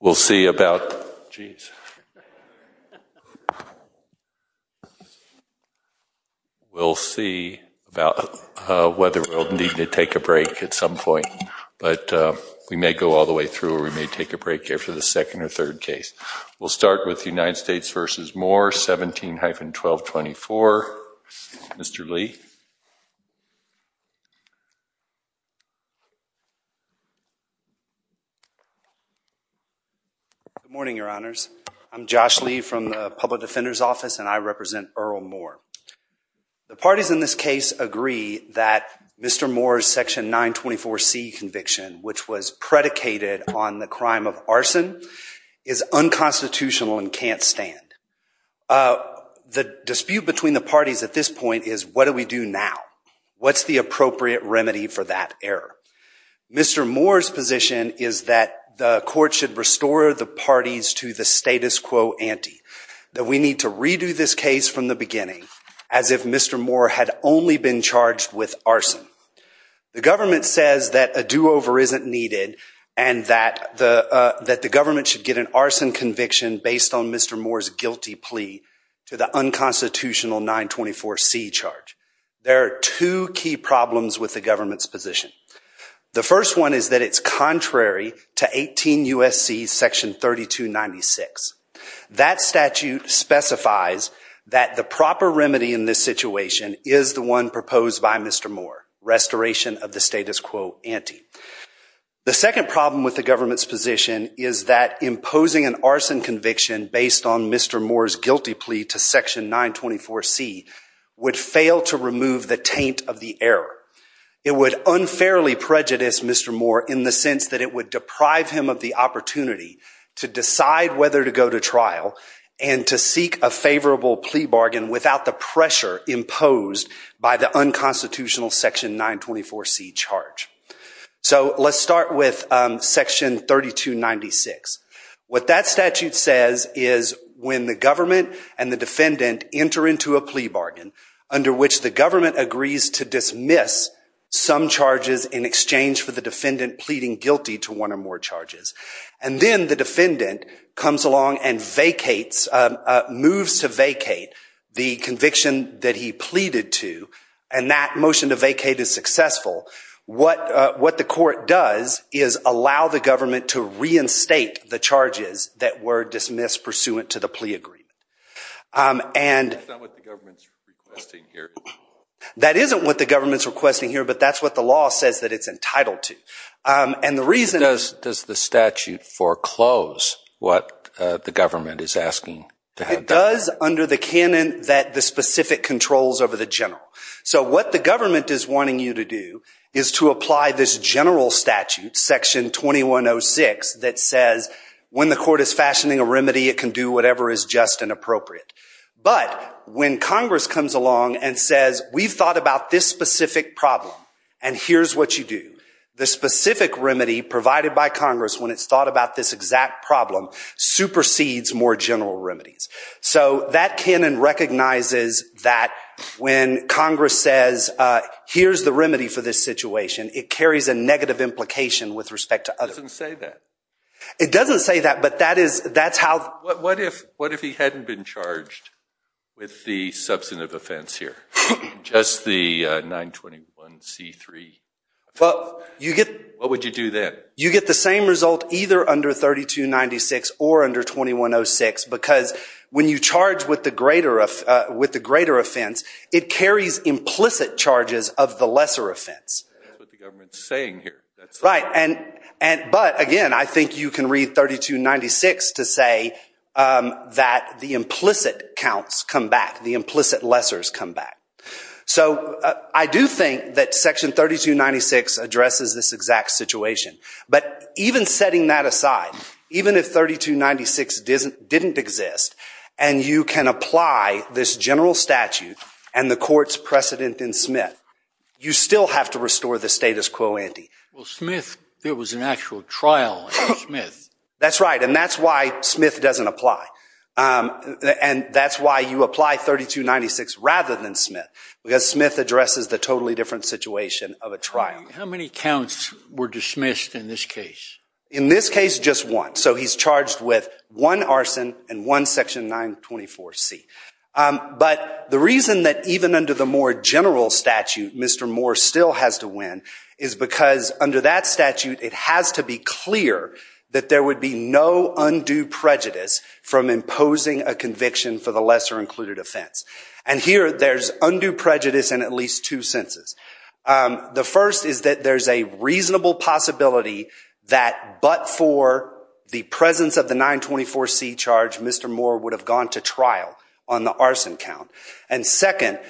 We'll see about, geez, we'll see about whether we'll need to take a break at some point, but we may go all the way through or we may take a break here for the second or third case. We'll start with United States v. Moore, 17-1224. Mr. Lee. Good morning, your honors. I'm Josh Lee from the Public Defender's Office and I represent Earl Moore. The parties in this case agree that Mr. Moore's section 924C conviction, which was predicated on the crime of arson, is unconstitutional and can't stand. The dispute between the parties at this point is what do we do now? What's the appropriate remedy for that error? Mr. Moore's position is that the court should restore the parties to the status quo ante, that we need to redo this case from the beginning as if Mr. Moore had only been charged with arson. The government says that a do-over isn't needed and that the government should get an arson conviction based on Mr. Moore's guilty plea to the unconstitutional 924C charge. There are two key problems with the government's position. The first one is that it's contrary to 18 U.S.C. section 3296. That statute specifies that the proper remedy in this situation is the one proposed by Mr. Moore, restoration of the status quo ante. The second problem with the government's position is that imposing an arson conviction based on Mr. Moore's guilty plea to section 924C would fail to remove the taint of the error. It would unfairly prejudice Mr. Moore in the sense that it would deprive him of the opportunity to decide whether to go to trial and to seek a favorable plea bargain without the pressure imposed by the unconstitutional section 924C charge. So let's start with section 3296. What that statute says is when the government and the defendant enter into a plea bargain under which the government agrees to dismiss some charges in exchange for the defendant pleading guilty to one or more charges and then the defendant comes along and vacates, moves to vacate the conviction that he and that motion to vacate is successful, what the court does is allow the government to reinstate the charges that were dismissed pursuant to the plea agreement. And that isn't what the government's requesting here, but that's what the law says that it's entitled to. And the reason... Does the statute foreclose what the government is asking? It does under the canon that the government is wanting you to do is to apply this general statute, section 2106, that says when the court is fashioning a remedy it can do whatever is just and appropriate. But when Congress comes along and says we've thought about this specific problem and here's what you do, the specific remedy provided by Congress when it's thought about this exact problem supersedes more general remedies. So that canon recognizes that when Congress says here's the remedy for this situation it carries a negative implication with respect to others. It doesn't say that but that is that's how... What if what if he hadn't been charged with the substantive offense here? Just the 921c3? Well you get... What would you do then? You get the same result either under 3296 or under 2106 because when you charge with the greater offense it carries implicit charges of the lesser offense. That's what the government's saying here. Right, but again I think you can read 3296 to say that the implicit counts come back, the implicit lessors come back. So I do think that section 3296 addresses this exact situation, but even setting that aside, even if 3296 didn't exist and you can apply this general statute and the court's precedent in Smith, you still have to restore the status quo ante. Well Smith, there was an actual trial in Smith. That's right and that's why Smith doesn't apply and that's why you apply 3296 rather than Smith because Smith addresses the totally different situation of a trial. How many counts were dismissed in this case? In this case just one. So he's charged with one arson and one section 924c. But the reason that even under the more general statute Mr. Moore still has to win is because under that statute it has to be clear that there would be no undue prejudice from imposing a conviction for the lesser included offense. And here there's undue prejudice in at least two senses. The first is that there's a reasonable possibility that but for the presence of the 924c charge, Mr. Moore would have gone to trial on the arson count. And second,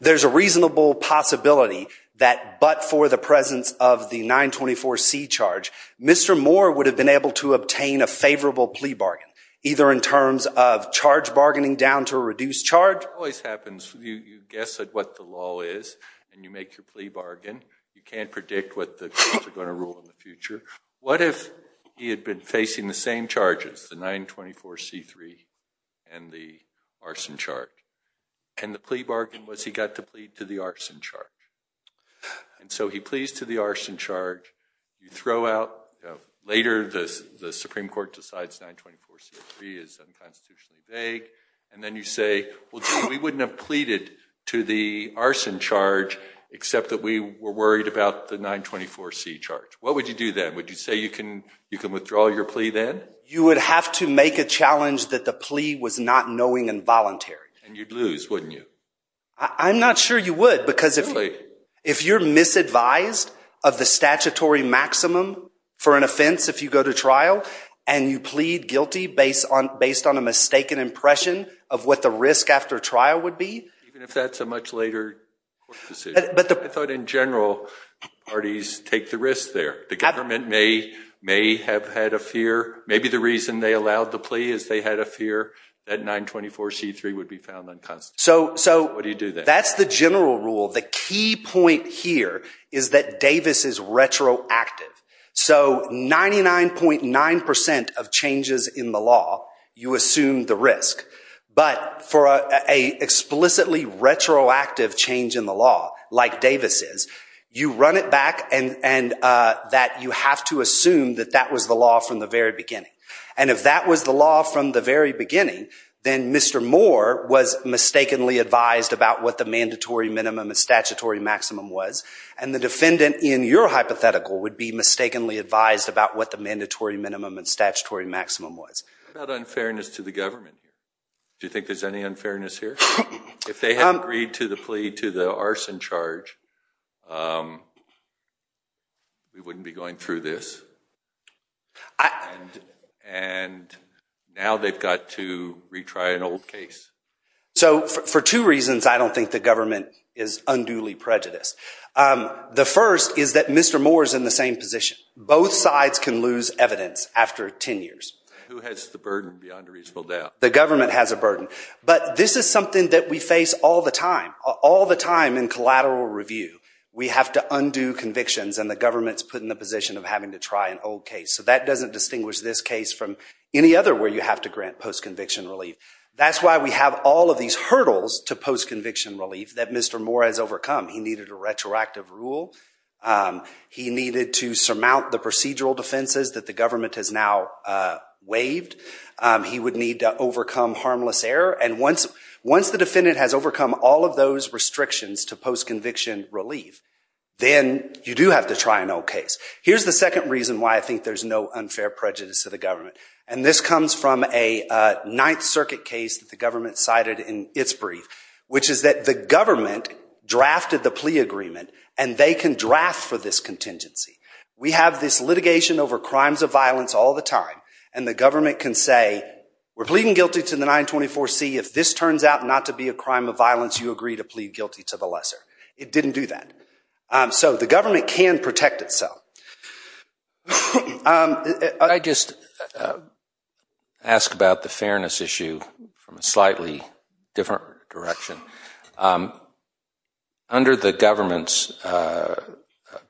there's a reasonable possibility that but for the presence of the 924c charge, Mr. Moore would have been able to obtain a favorable plea bargain, either in terms of charge bargaining down to a reduced The charge always happens, you guess at what the law is and you make your plea bargain. You can't predict what the courts are going to rule in the future. What if he had been facing the same charges, the 924c3 and the arson charge? And the plea bargain was he got to plead to the arson charge. And so he pleads to the arson charge, you throw out, later the Supreme Court decides 924c3 is vague and then you say, well we wouldn't have pleaded to the arson charge except that we were worried about the 924c charge. What would you do then? Would you say you can you can withdraw your plea then? You would have to make a challenge that the plea was not knowing involuntary. And you'd lose, wouldn't you? I'm not sure you would because if you're misadvised of the statutory maximum for an a mistaken impression of what the risk after trial would be. Even if that's a much later court decision. I thought in general, parties take the risk there. The government may have had a fear, maybe the reason they allowed the plea is they had a fear that 924c3 would be found unconstitutional. What do you do then? So that's the general rule. The key point here is that Davis is retroactive. So 99.9% of changes in the law, you assume the risk. But for a explicitly retroactive change in the law, like Davis is, you run it back and that you have to assume that that was the law from the very beginning. And if that was the law from the very beginning, then Mr. Moore was mistakenly advised about what the mandatory minimum and statutory maximum was. And the defendant in your hypothetical would be mistakenly advised about what the mandatory minimum and statutory maximum was. What about unfairness to the government? Do you think there's any unfairness here? If they had agreed to the plea to the arson charge, we wouldn't be going through this. And now they've got to retry an old case. So for two reasons I don't think the government is unduly prejudiced. The first is that Mr. Moore's in the same position. Both sides can lose evidence after 10 years. Who has the burden beyond a reasonable doubt? The government has a burden. But this is something that we face all the time, all the time in collateral review. We have to undo convictions and the government's put in the position of having to try an old case. So that doesn't distinguish this case from any other where you have to grant post-conviction relief. That's why we have all of these hurdles to post-conviction relief that Mr. Moore has overcome. He needed a retroactive rule. He needed to surmount the procedural defenses that the government has now waived. He would need to overcome harmless error. And once the defendant has overcome all of those restrictions to post-conviction relief, then you do have to try an old case. Here's the second reason why I think there's no unfair prejudice to the government. And this comes from a 9th Circuit case that the government cited in its brief, which is that the they can draft for this contingency. We have this litigation over crimes of violence all the time and the government can say, we're pleading guilty to the 924 C. If this turns out not to be a crime of violence, you agree to plead guilty to the lesser. It didn't do that. So the government can protect itself. I just ask about the fairness issue from a slightly different direction. Under the government's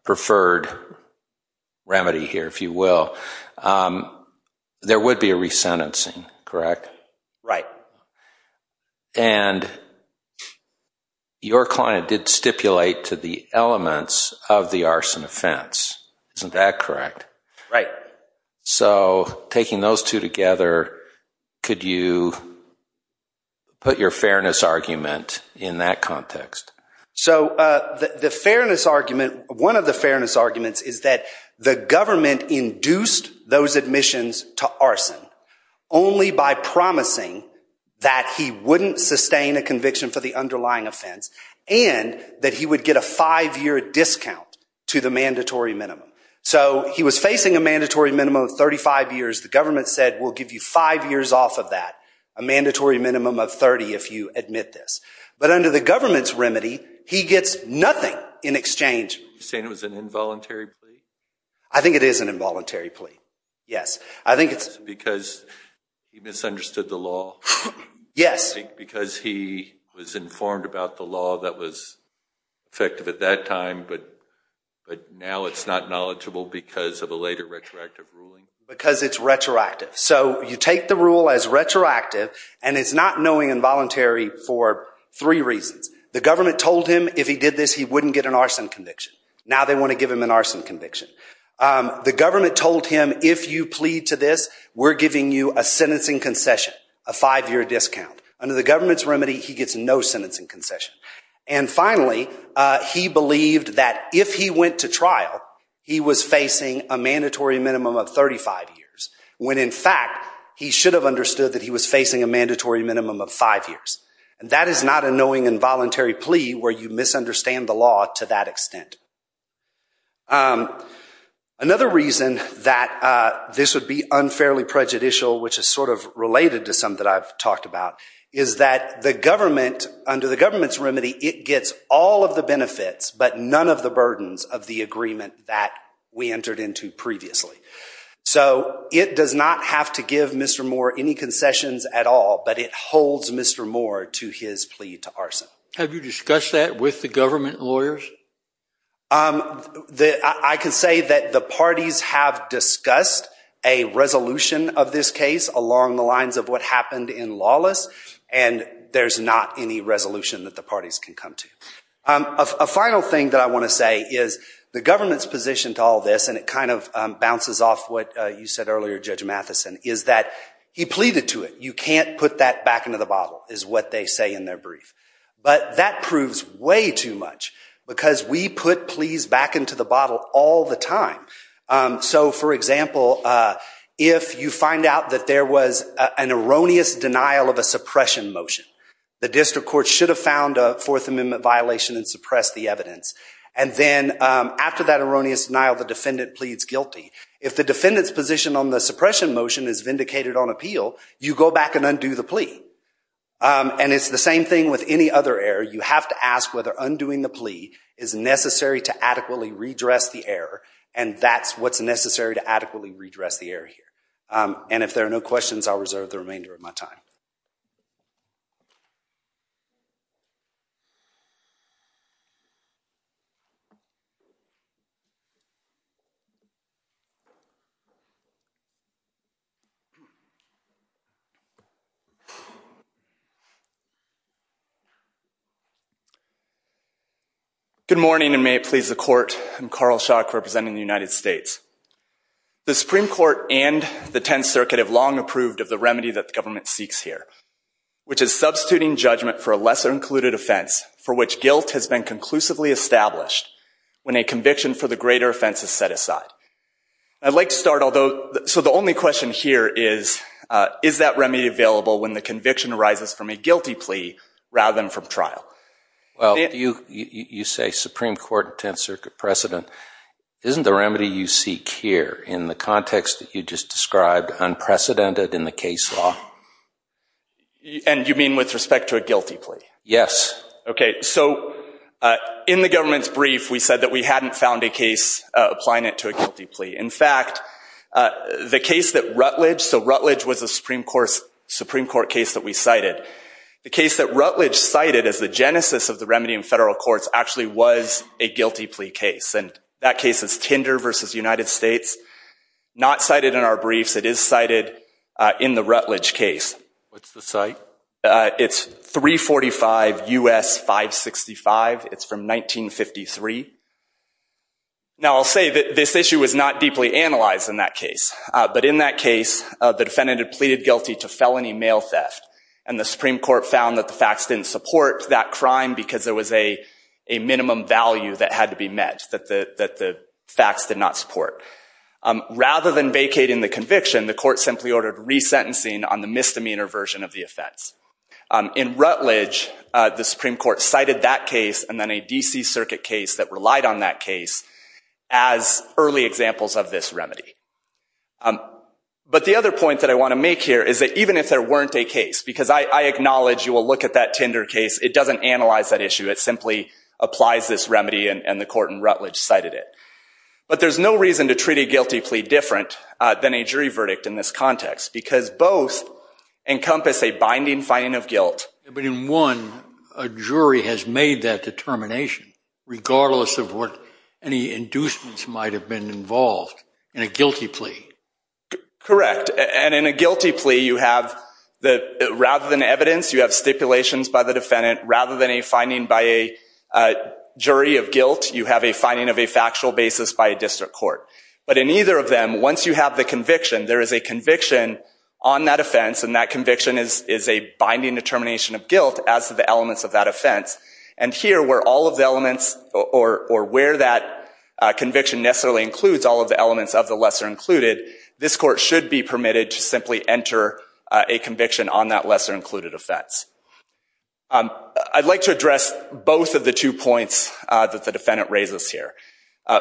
preferred remedy here, if you will, there would be a resentencing, correct? Right. And your client did stipulate to the elements of the arson offense. Isn't that correct? Right. So taking those two together, could you put your fairness argument in that context? So the fairness argument, one of the fairness arguments, is that the government induced those admissions to arson only by promising that he wouldn't sustain a conviction for the underlying offense and that he would get a five-year discount to the mandatory minimum. So he was facing a mandatory minimum of 35 years. The government said we'll give you five years off of that, a mandatory minimum of 30 if you admit this. But under the government's remedy, he gets nothing in exchange. You're saying it was an involuntary plea? I think it is an involuntary plea, yes. I think it's because he misunderstood the law. Yes. Because he was informed about the law that was effective at that time, but now it's not knowledgeable because of a later retroactive ruling? Because it's retroactive. So you take the rule as retroactive and it's not knowing involuntary for three reasons. The government told him if he did this, he wouldn't get an arson conviction. Now they want to give him an arson conviction. The government told him if you plead to this, we're giving you a sentencing concession, a five-year discount. Under the government's remedy, he gets no sentencing concession. And years when in fact he should have understood that he was facing a mandatory minimum of five years. And that is not a knowing involuntary plea where you misunderstand the law to that extent. Another reason that this would be unfairly prejudicial, which is sort of related to some that I've talked about, is that the government, under the government's remedy, it gets all of the benefits but none of the burdens of the agreement that we entered into previously. So it does not have to give Mr. Moore any concessions at all, but it holds Mr. Moore to his plea to arson. Have you discussed that with the government lawyers? I can say that the parties have discussed a resolution of this case along the lines of what happened in Lawless, and there's not any resolution that the parties can come to. A final thing that I want to say is the government's position to all this, and it kind of bounces off what you said earlier, Judge Matheson, is that he pleaded to it. You can't put that back into the bottle, is what they say in their brief. But that proves way too much because we put pleas back into the bottle all the time. So for example, if you find out that there was an erroneous denial of a suppression motion, the district court should have found a Fourth Amendment violation and suppressed the evidence. And then after that erroneous denial, the defendant pleads guilty. If the defendant's position on the suppression motion is vindicated on appeal, you go back and undo the plea. And it's the same thing with any other error. You have to ask whether undoing the plea is necessary to adequately redress the error, and that's what's necessary to adequately redress the error here. And if there are no questions, I'll reserve the remainder of my time. Thank you. Good morning, and may it please the Court, I'm Carl Schock, representing the United States. The Supreme Court and the Tenth Circuit have long approved of the remedy that the government seeks here, which is substituting judgment for a lesser included offense for which guilt has been conclusively established when a conviction for the greater offense is set aside. I'd like to start, although, so the only question here is, is that remedy available when the conviction arises from a guilty plea rather than from trial? Well, you say Supreme Court and Tenth Circuit precedent. Isn't the remedy you seek here, in the context that you just described, unprecedented in the case law? And you mean with respect to a guilty plea? Yes. Okay, so in the government's brief, we said that we hadn't found a case applying it to a guilty plea. In fact, the case that Rutledge, so Rutledge was a Supreme Court case that we cited. The case that Rutledge cited as the genesis of the remedy in federal courts actually was a guilty plea case, and that case is Tinder versus United States. Not cited in our briefs, it is cited in the 245 U.S. 565. It's from 1953. Now, I'll say that this issue was not deeply analyzed in that case, but in that case, the defendant had pleaded guilty to felony mail theft, and the Supreme Court found that the facts didn't support that crime because there was a minimum value that had to be met, that the facts did not support. Rather than vacating the conviction, the court simply ordered resentencing on the misdemeanor version of the offense. In Rutledge, the Supreme Court cited that case, and then a DC Circuit case that relied on that case as early examples of this remedy. But the other point that I want to make here is that even if there weren't a case, because I acknowledge you will look at that Tinder case, it doesn't analyze that issue. It simply applies this remedy, and the court in Rutledge cited it. But there's no reason to treat a guilty plea different than a jury verdict in this context, because both encompass a binding finding of guilt. But in one, a jury has made that determination, regardless of what any inducements might have been involved in a guilty plea. Correct, and in a guilty plea, you have that rather than evidence, you have stipulations by the defendant. Rather than a finding by a jury of guilt, you have a finding of a factual basis by a district court. But in either of them, once you have the conviction, there is a conviction on that offense, and that conviction is a binding determination of guilt as to the elements of that offense. And here, where all of the elements, or where that conviction necessarily includes all of the elements of the lesser included, this court should be permitted to simply enter a conviction on that lesser included offense. I'd like to address both of the two points that the defendant raises here.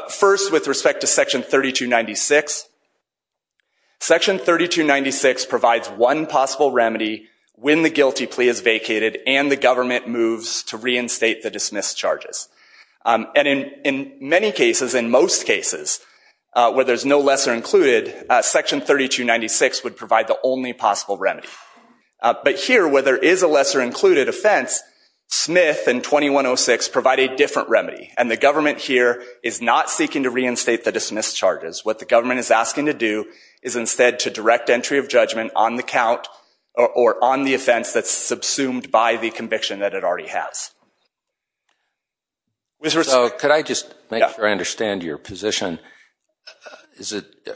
First, with respect to Section 3296. Section 3296 provides one possible remedy when the guilty plea is vacated and the government moves to reinstate the dismissed charges. And in many cases, in most cases, where there's no lesser included, Section 3296 would provide the only possible remedy. But here, where there is a lesser included offense, Smith and 2106 provide a different remedy, and the government here is not seeking to reinstate the dismissed charges. What the government is asking to do is instead to direct entry of judgment on the count or on the offense that's subsumed by the conviction that it already has. So, could I just make sure I understand your position?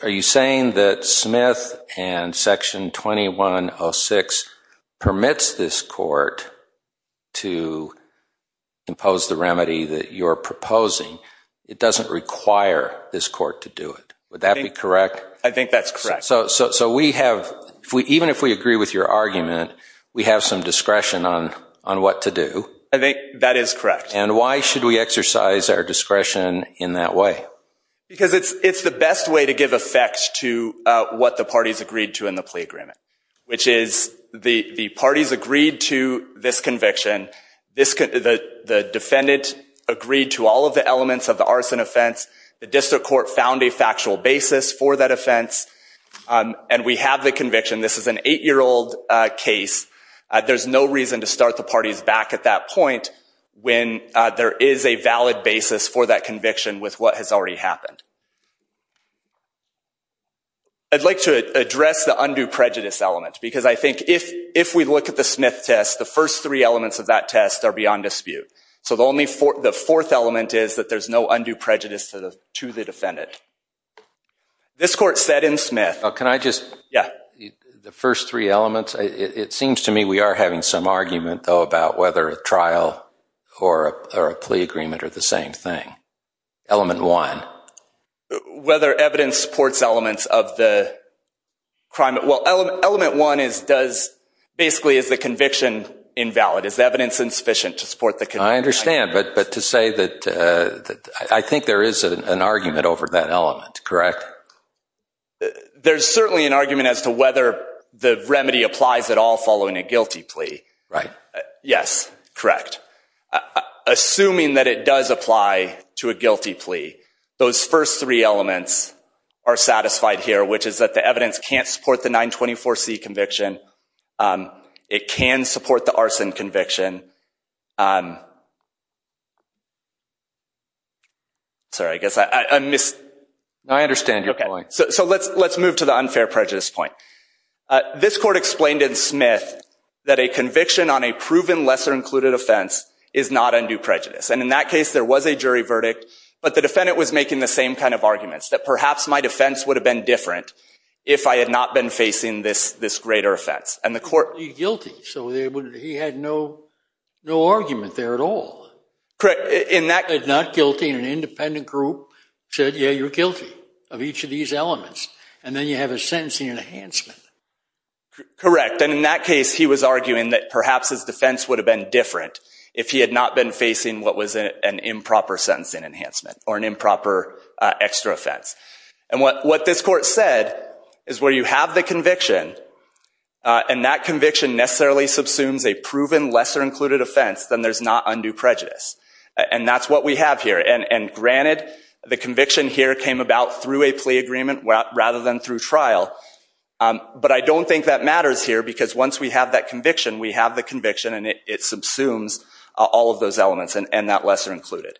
Are you saying that Smith and Section 2106 permits this court to impose the remedy that you're proposing? It doesn't require this court to do it. Would that be correct? I think that's correct. So, even if we agree with your argument, we have some discretion on what to do. I think that is correct. And why should we exercise our discretion in that way? Because it's the best way to give effect to what the parties agreed to in the plea agreement, which is the parties agreed to this conviction, the defendant agreed to all of the elements of the arson offense, the district court found a factual basis for that offense, and we have the conviction. This is an eight-year-old case. There's no reason to start the parties back at that point when there is a valid basis for that conviction with what has already happened. I'd like to address the undue prejudice element, because I think if we look at the Smith test, the first three elements of that test are beyond dispute. So, the fourth element is that there's no undue prejudice to the defendant. This court said in Smith... Can I just... Yeah. The first three elements, it seems to me we are having some argument, though, about whether a trial or a plea agreement are the same thing. Element one. Whether evidence supports elements of the crime... Well, element one basically is the conviction invalid. Is evidence insufficient to support the conviction? I understand, but to say that I think there is an argument over that element, correct? There's certainly an argument as to whether the remedy applies at all following a guilty plea. Right. Yes, correct. Assuming that it does apply to a guilty plea, those first three elements are satisfied here, which is that the evidence can't support the 924C conviction. It can support the arson conviction. Sorry, I guess I missed... I understand your point. So, let's move to the unfair prejudice point. This court explained in Smith that a conviction on a proven lesser-included offense is not undue prejudice, and in that case there was a jury verdict, but the defendant was making the same kind of arguments, that perhaps my defense would have been different if I had not been facing this greater offense, and the court... He's guilty, so he had no argument there at all. Correct, in that... He's not guilty in an independent group. He said, yeah, you're guilty of each of these elements, and then you have a sentencing enhancement. Correct, and in that case he was arguing that perhaps his defense would have been different if he had not been facing what was an improper sentencing enhancement, or an improper extra offense, and what this court said is where you have the conviction, and that conviction necessarily subsumes a proven lesser-included offense, then there's not undue prejudice, and that's what we have here, and granted the conviction here came about through a plea agreement rather than through trial, but I don't think that matters here because once we have that conviction, we have the conviction, and it subsumes all of those elements, and that lesser included.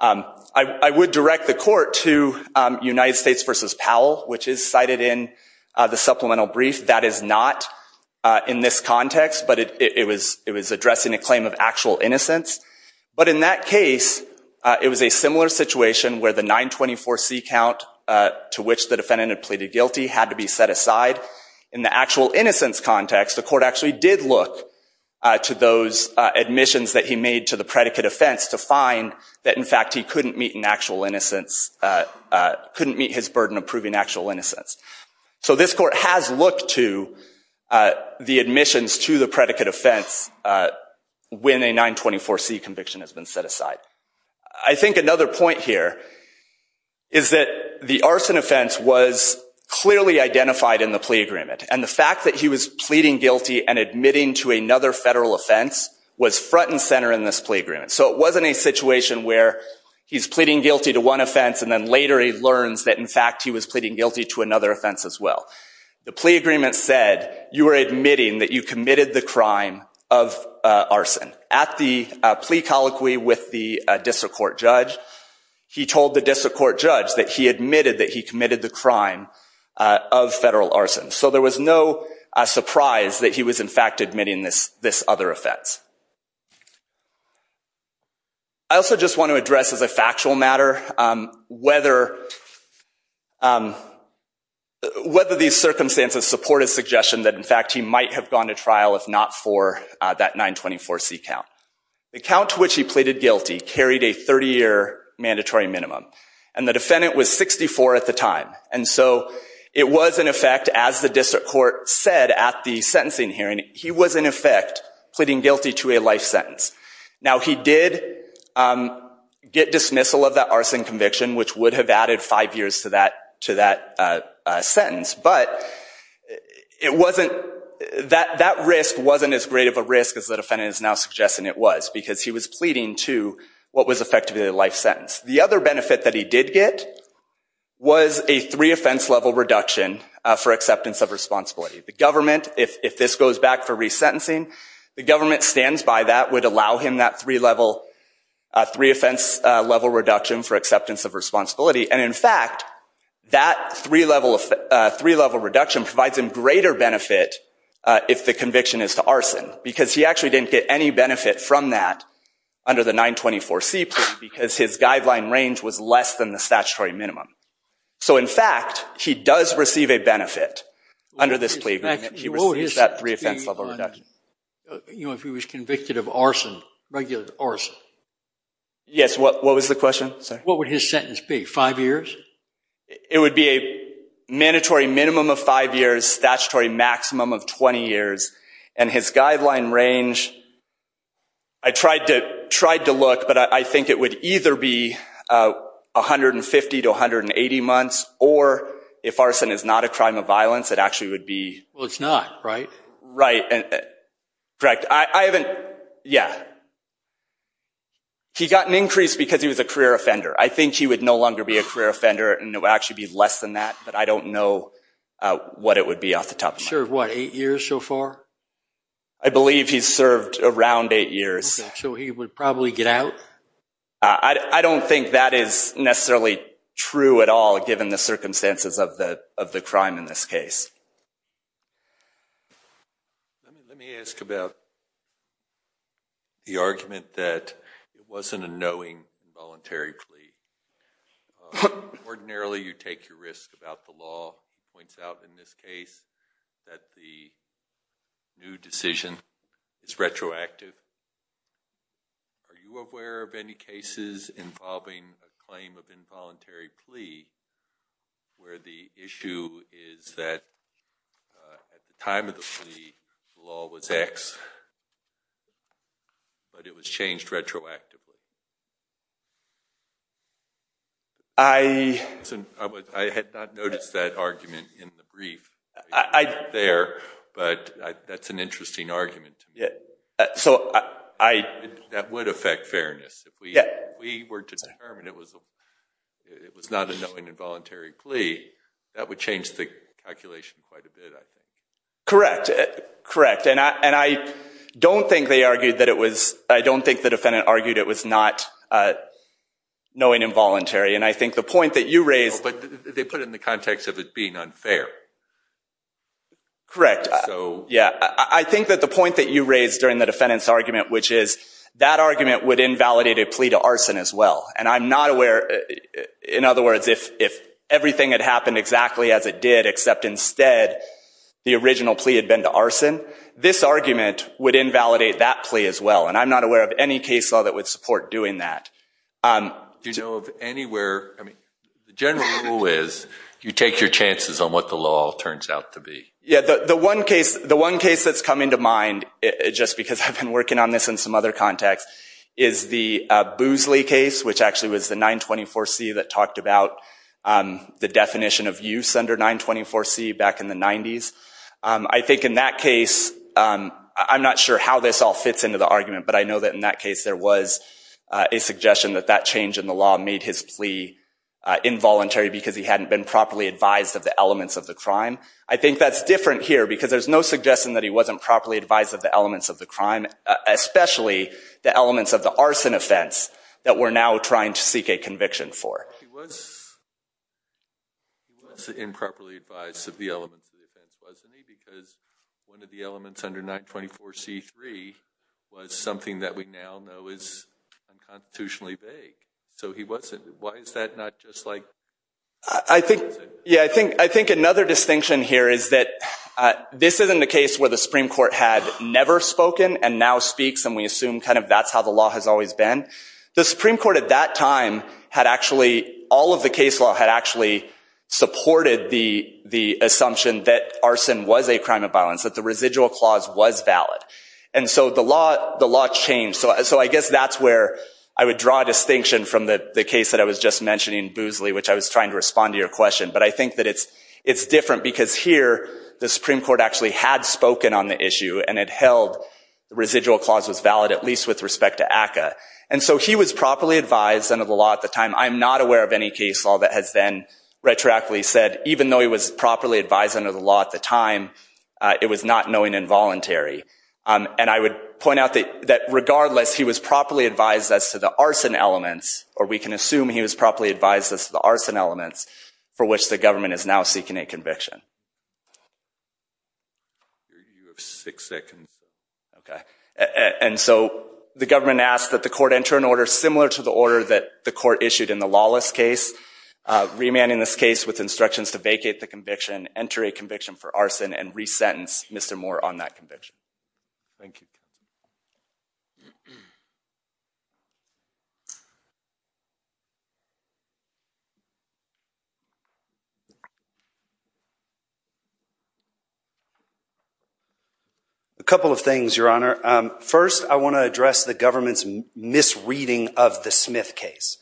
I would direct the court to United States v. Powell, which is cited in the supplemental brief. That is not in this context, but it was addressing a claim of actual innocence, but in that case it was a similar situation where the 924C count to which the defendant had pleaded guilty had to be set aside. In the actual innocence context, the court actually did look to those admissions that he made to the predicate offense to find that, in fact, he couldn't meet an actual innocence, couldn't meet his burden of proving actual innocence. So this court has looked to the admissions to the predicate offense when a 924C conviction has been set aside. I think another point here is that the arson offense was clearly identified in the plea agreement, and the fact that he was pleading guilty and admitting to another federal offense was front and center in this plea agreement. So it wasn't a situation where he's pleading guilty to one offense and then later he learns that, in fact, he was pleading guilty to another offense as well. The plea agreement said you were admitting that you committed the crime of arson. At the plea colloquy with the district court judge, he told the district court judge that he admitted that he committed the crime of federal arson. So there was no surprise that he was, in fact, admitting this other offense. I also just want to address as a factual matter whether these circumstances support his suggestion that, in fact, he might have gone to trial if not for that 924C count. The count to which he pleaded guilty carried a 30-year mandatory minimum, and the defendant was 64 at the time. And so it was, in effect, as the sentencing hearing, he was, in effect, pleading guilty to a life sentence. Now he did get dismissal of that arson conviction, which would have added five years to that sentence, but that risk wasn't as great of a risk as the defendant is now suggesting it was because he was pleading to what was effectively a life sentence. The other benefit that he did get was a three offense level reduction for acceptance of responsibility. The government, if this goes back for resentencing, the government stands by that would allow him that three offense level reduction for acceptance of responsibility. And, in fact, that three level reduction provides him greater benefit if the conviction is to arson because he actually didn't get any benefit from that under the 924C plea because his guideline range was less than the statutory minimum. So, in fact, he does receive a benefit under this plea. You know, if he was convicted of arson, regular arson. Yes, what was the question? What would his sentence be, five years? It would be a mandatory minimum of five years, statutory maximum of 20 years, and his guideline range, I tried to look, but I think it would either be 150 to 180 months or if arson is not a crime of violence it actually would be Well, it's not, right? Right, correct. I haven't, yeah, he got an increase because he was a career offender. I think he would no longer be a career offender and it would actually be less than that, but I don't know what it would be off the top of my head. He's served, what, eight years so far? I believe he's served around eight years. So he would probably get out? I don't think that is necessarily true at all given the circumstances of the of the crime in this case. Let me ask about the argument that it wasn't a knowing, voluntary plea. Ordinarily you take your risk about the law, points out in this case that the new Are you aware of any cases involving a claim of involuntary plea where the issue is that at the time of the plea, the law was X, but it was changed retroactively? I had not noticed that argument in the brief. I didn't there, but that's an interesting argument. Yeah, so I, that would affect fairness. If we were to determine it was not a knowing, involuntary plea, that would change the calculation quite a bit, I think. Correct, correct. And I don't think they argued that it was, I don't think the defendant argued it was not knowing, involuntary. And I think the point that you raised, But they put it in the context of it being unfair. Correct. Yeah, I think that the point that you raised during the defendant's argument, which is that argument would invalidate a plea to arson as well. And I'm not aware, in other words, if everything had happened exactly as it did, except instead, the original plea had been to arson, this argument would invalidate that plea as well. And I'm not aware of any case law that would support doing that. Do you know of anywhere, I mean, the general rule is you take your chances on what the law turns out to be. Yeah, the one case, the one case that's come into mind, just because I've been working on this in some other context, is the Boosley case, which actually was the 924C that talked about the definition of use under 924C back in the 90s. I think in that case, I'm not sure how this all fits into the argument, but I know that in that case there was a suggestion that that change in the law made his plea involuntary because he hadn't been properly advised of the elements of the crime. I think that's different here because there's no suggestion that he wasn't properly advised of the elements of the crime, especially the elements of the arson offense that we're now trying to seek a conviction for. He was improperly advised of the elements of the offense, wasn't he? Because one of the elements under 924C3 was something that we now know is unconstitutionally vague. So he wasn't. Why is that not just like— I think another distinction here is that this isn't a case where the Supreme Court had never spoken and now speaks, and we assume kind of that's how the law has always been. The Supreme Court at that time had actually—all of the case law had actually supported the assumption that arson was a crime of violence, that the residual clause was valid. And so the law changed. So I guess that's where I would draw a distinction from the case that I was just mentioning, Boosley, which I was trying to respond to your question. But I think that it's different because here the Supreme Court actually had spoken on the issue and it held the residual clause was valid, at least with respect to ACCA. And so he was properly advised under the law at the time. I'm not aware of any case law that has then retroactively said, even though he was properly advised under the law at the time, it was not knowing involuntary. And I would point out that regardless, he was properly advised as to the arson elements, or we can assume he was properly advised as to the arson elements, for which the government is now seeking a conviction. You have six seconds. Okay. And so the government asked that the court enter an order similar to the order that the court issued in the Lawless case, remanding this case with instructions to vacate the conviction, enter a conviction for arson, and resentence Mr. Moore on that conviction. Thank you. A couple of things, Your Honor. First, I want to address the government's misreading of the Smith case.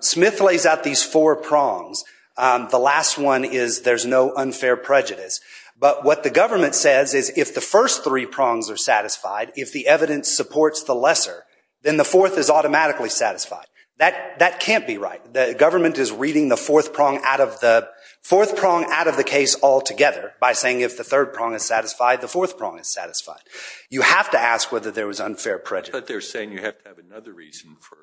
Smith lays out these four prongs. The last one is there's no unfair prejudice. But what the government says is if the first three prongs are satisfied, if the evidence supports the lesser, then the fourth is automatically satisfied. That can't be right. The government is reading the fourth prong out of the case altogether by saying if the third prong is satisfied, the fourth prong is satisfied. You have to ask whether there was unfair prejudice. But they're saying you have to have another reason for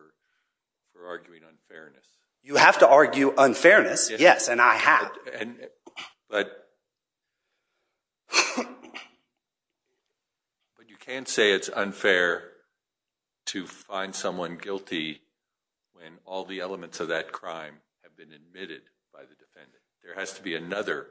arguing unfairness. You have to argue unfairness, yes, and I have. But you can't say it's unfair to find someone guilty when all the elements of that crime have been admitted by the defendant. There has to be another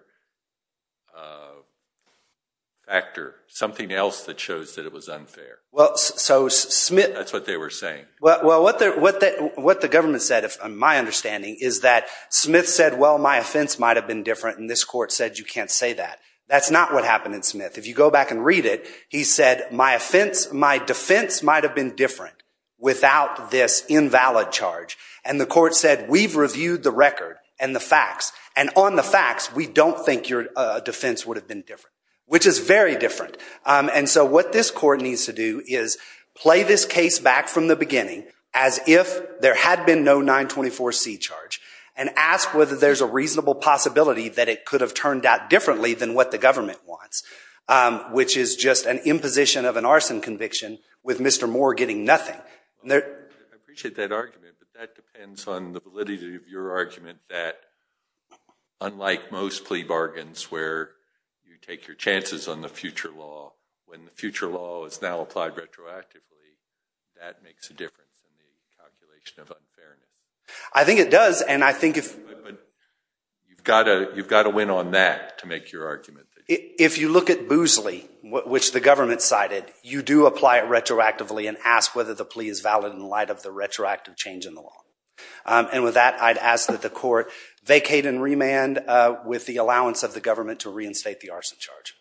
factor, something else that shows that it was unfair. That's what they were saying. Well, what the government said, my understanding, is that Smith said, well, my offense might have been different, and this court said you can't say that. That's not what happened in Smith. If you go back and read it, he said my offense, my defense might have been different without this invalid charge. And the court said we've reviewed the record and the facts, and on the facts, we don't think your defense would have been different, which is very different. And so what this court needs to do is play this case back from the beginning as if there had been no 924C charge and ask whether there's a reasonable possibility that it could have turned out differently than what the government wants, which is just an imposition of an arson conviction with Mr. Moore getting nothing. I appreciate that argument, but that depends on the validity of your argument that, unlike most plea bargains where you take your chances on the future law, when the future law is now applied retroactively, that makes a difference in the calculation of unfairness. I think it does. But you've got to win on that to make your argument. If you look at Boozley, which the government cited, you do apply it retroactively and ask whether the plea is valid in light of the retroactive change in the law. And with that, I'd ask that the court vacate and remand with the allowance of the government to reinstate the arson charge.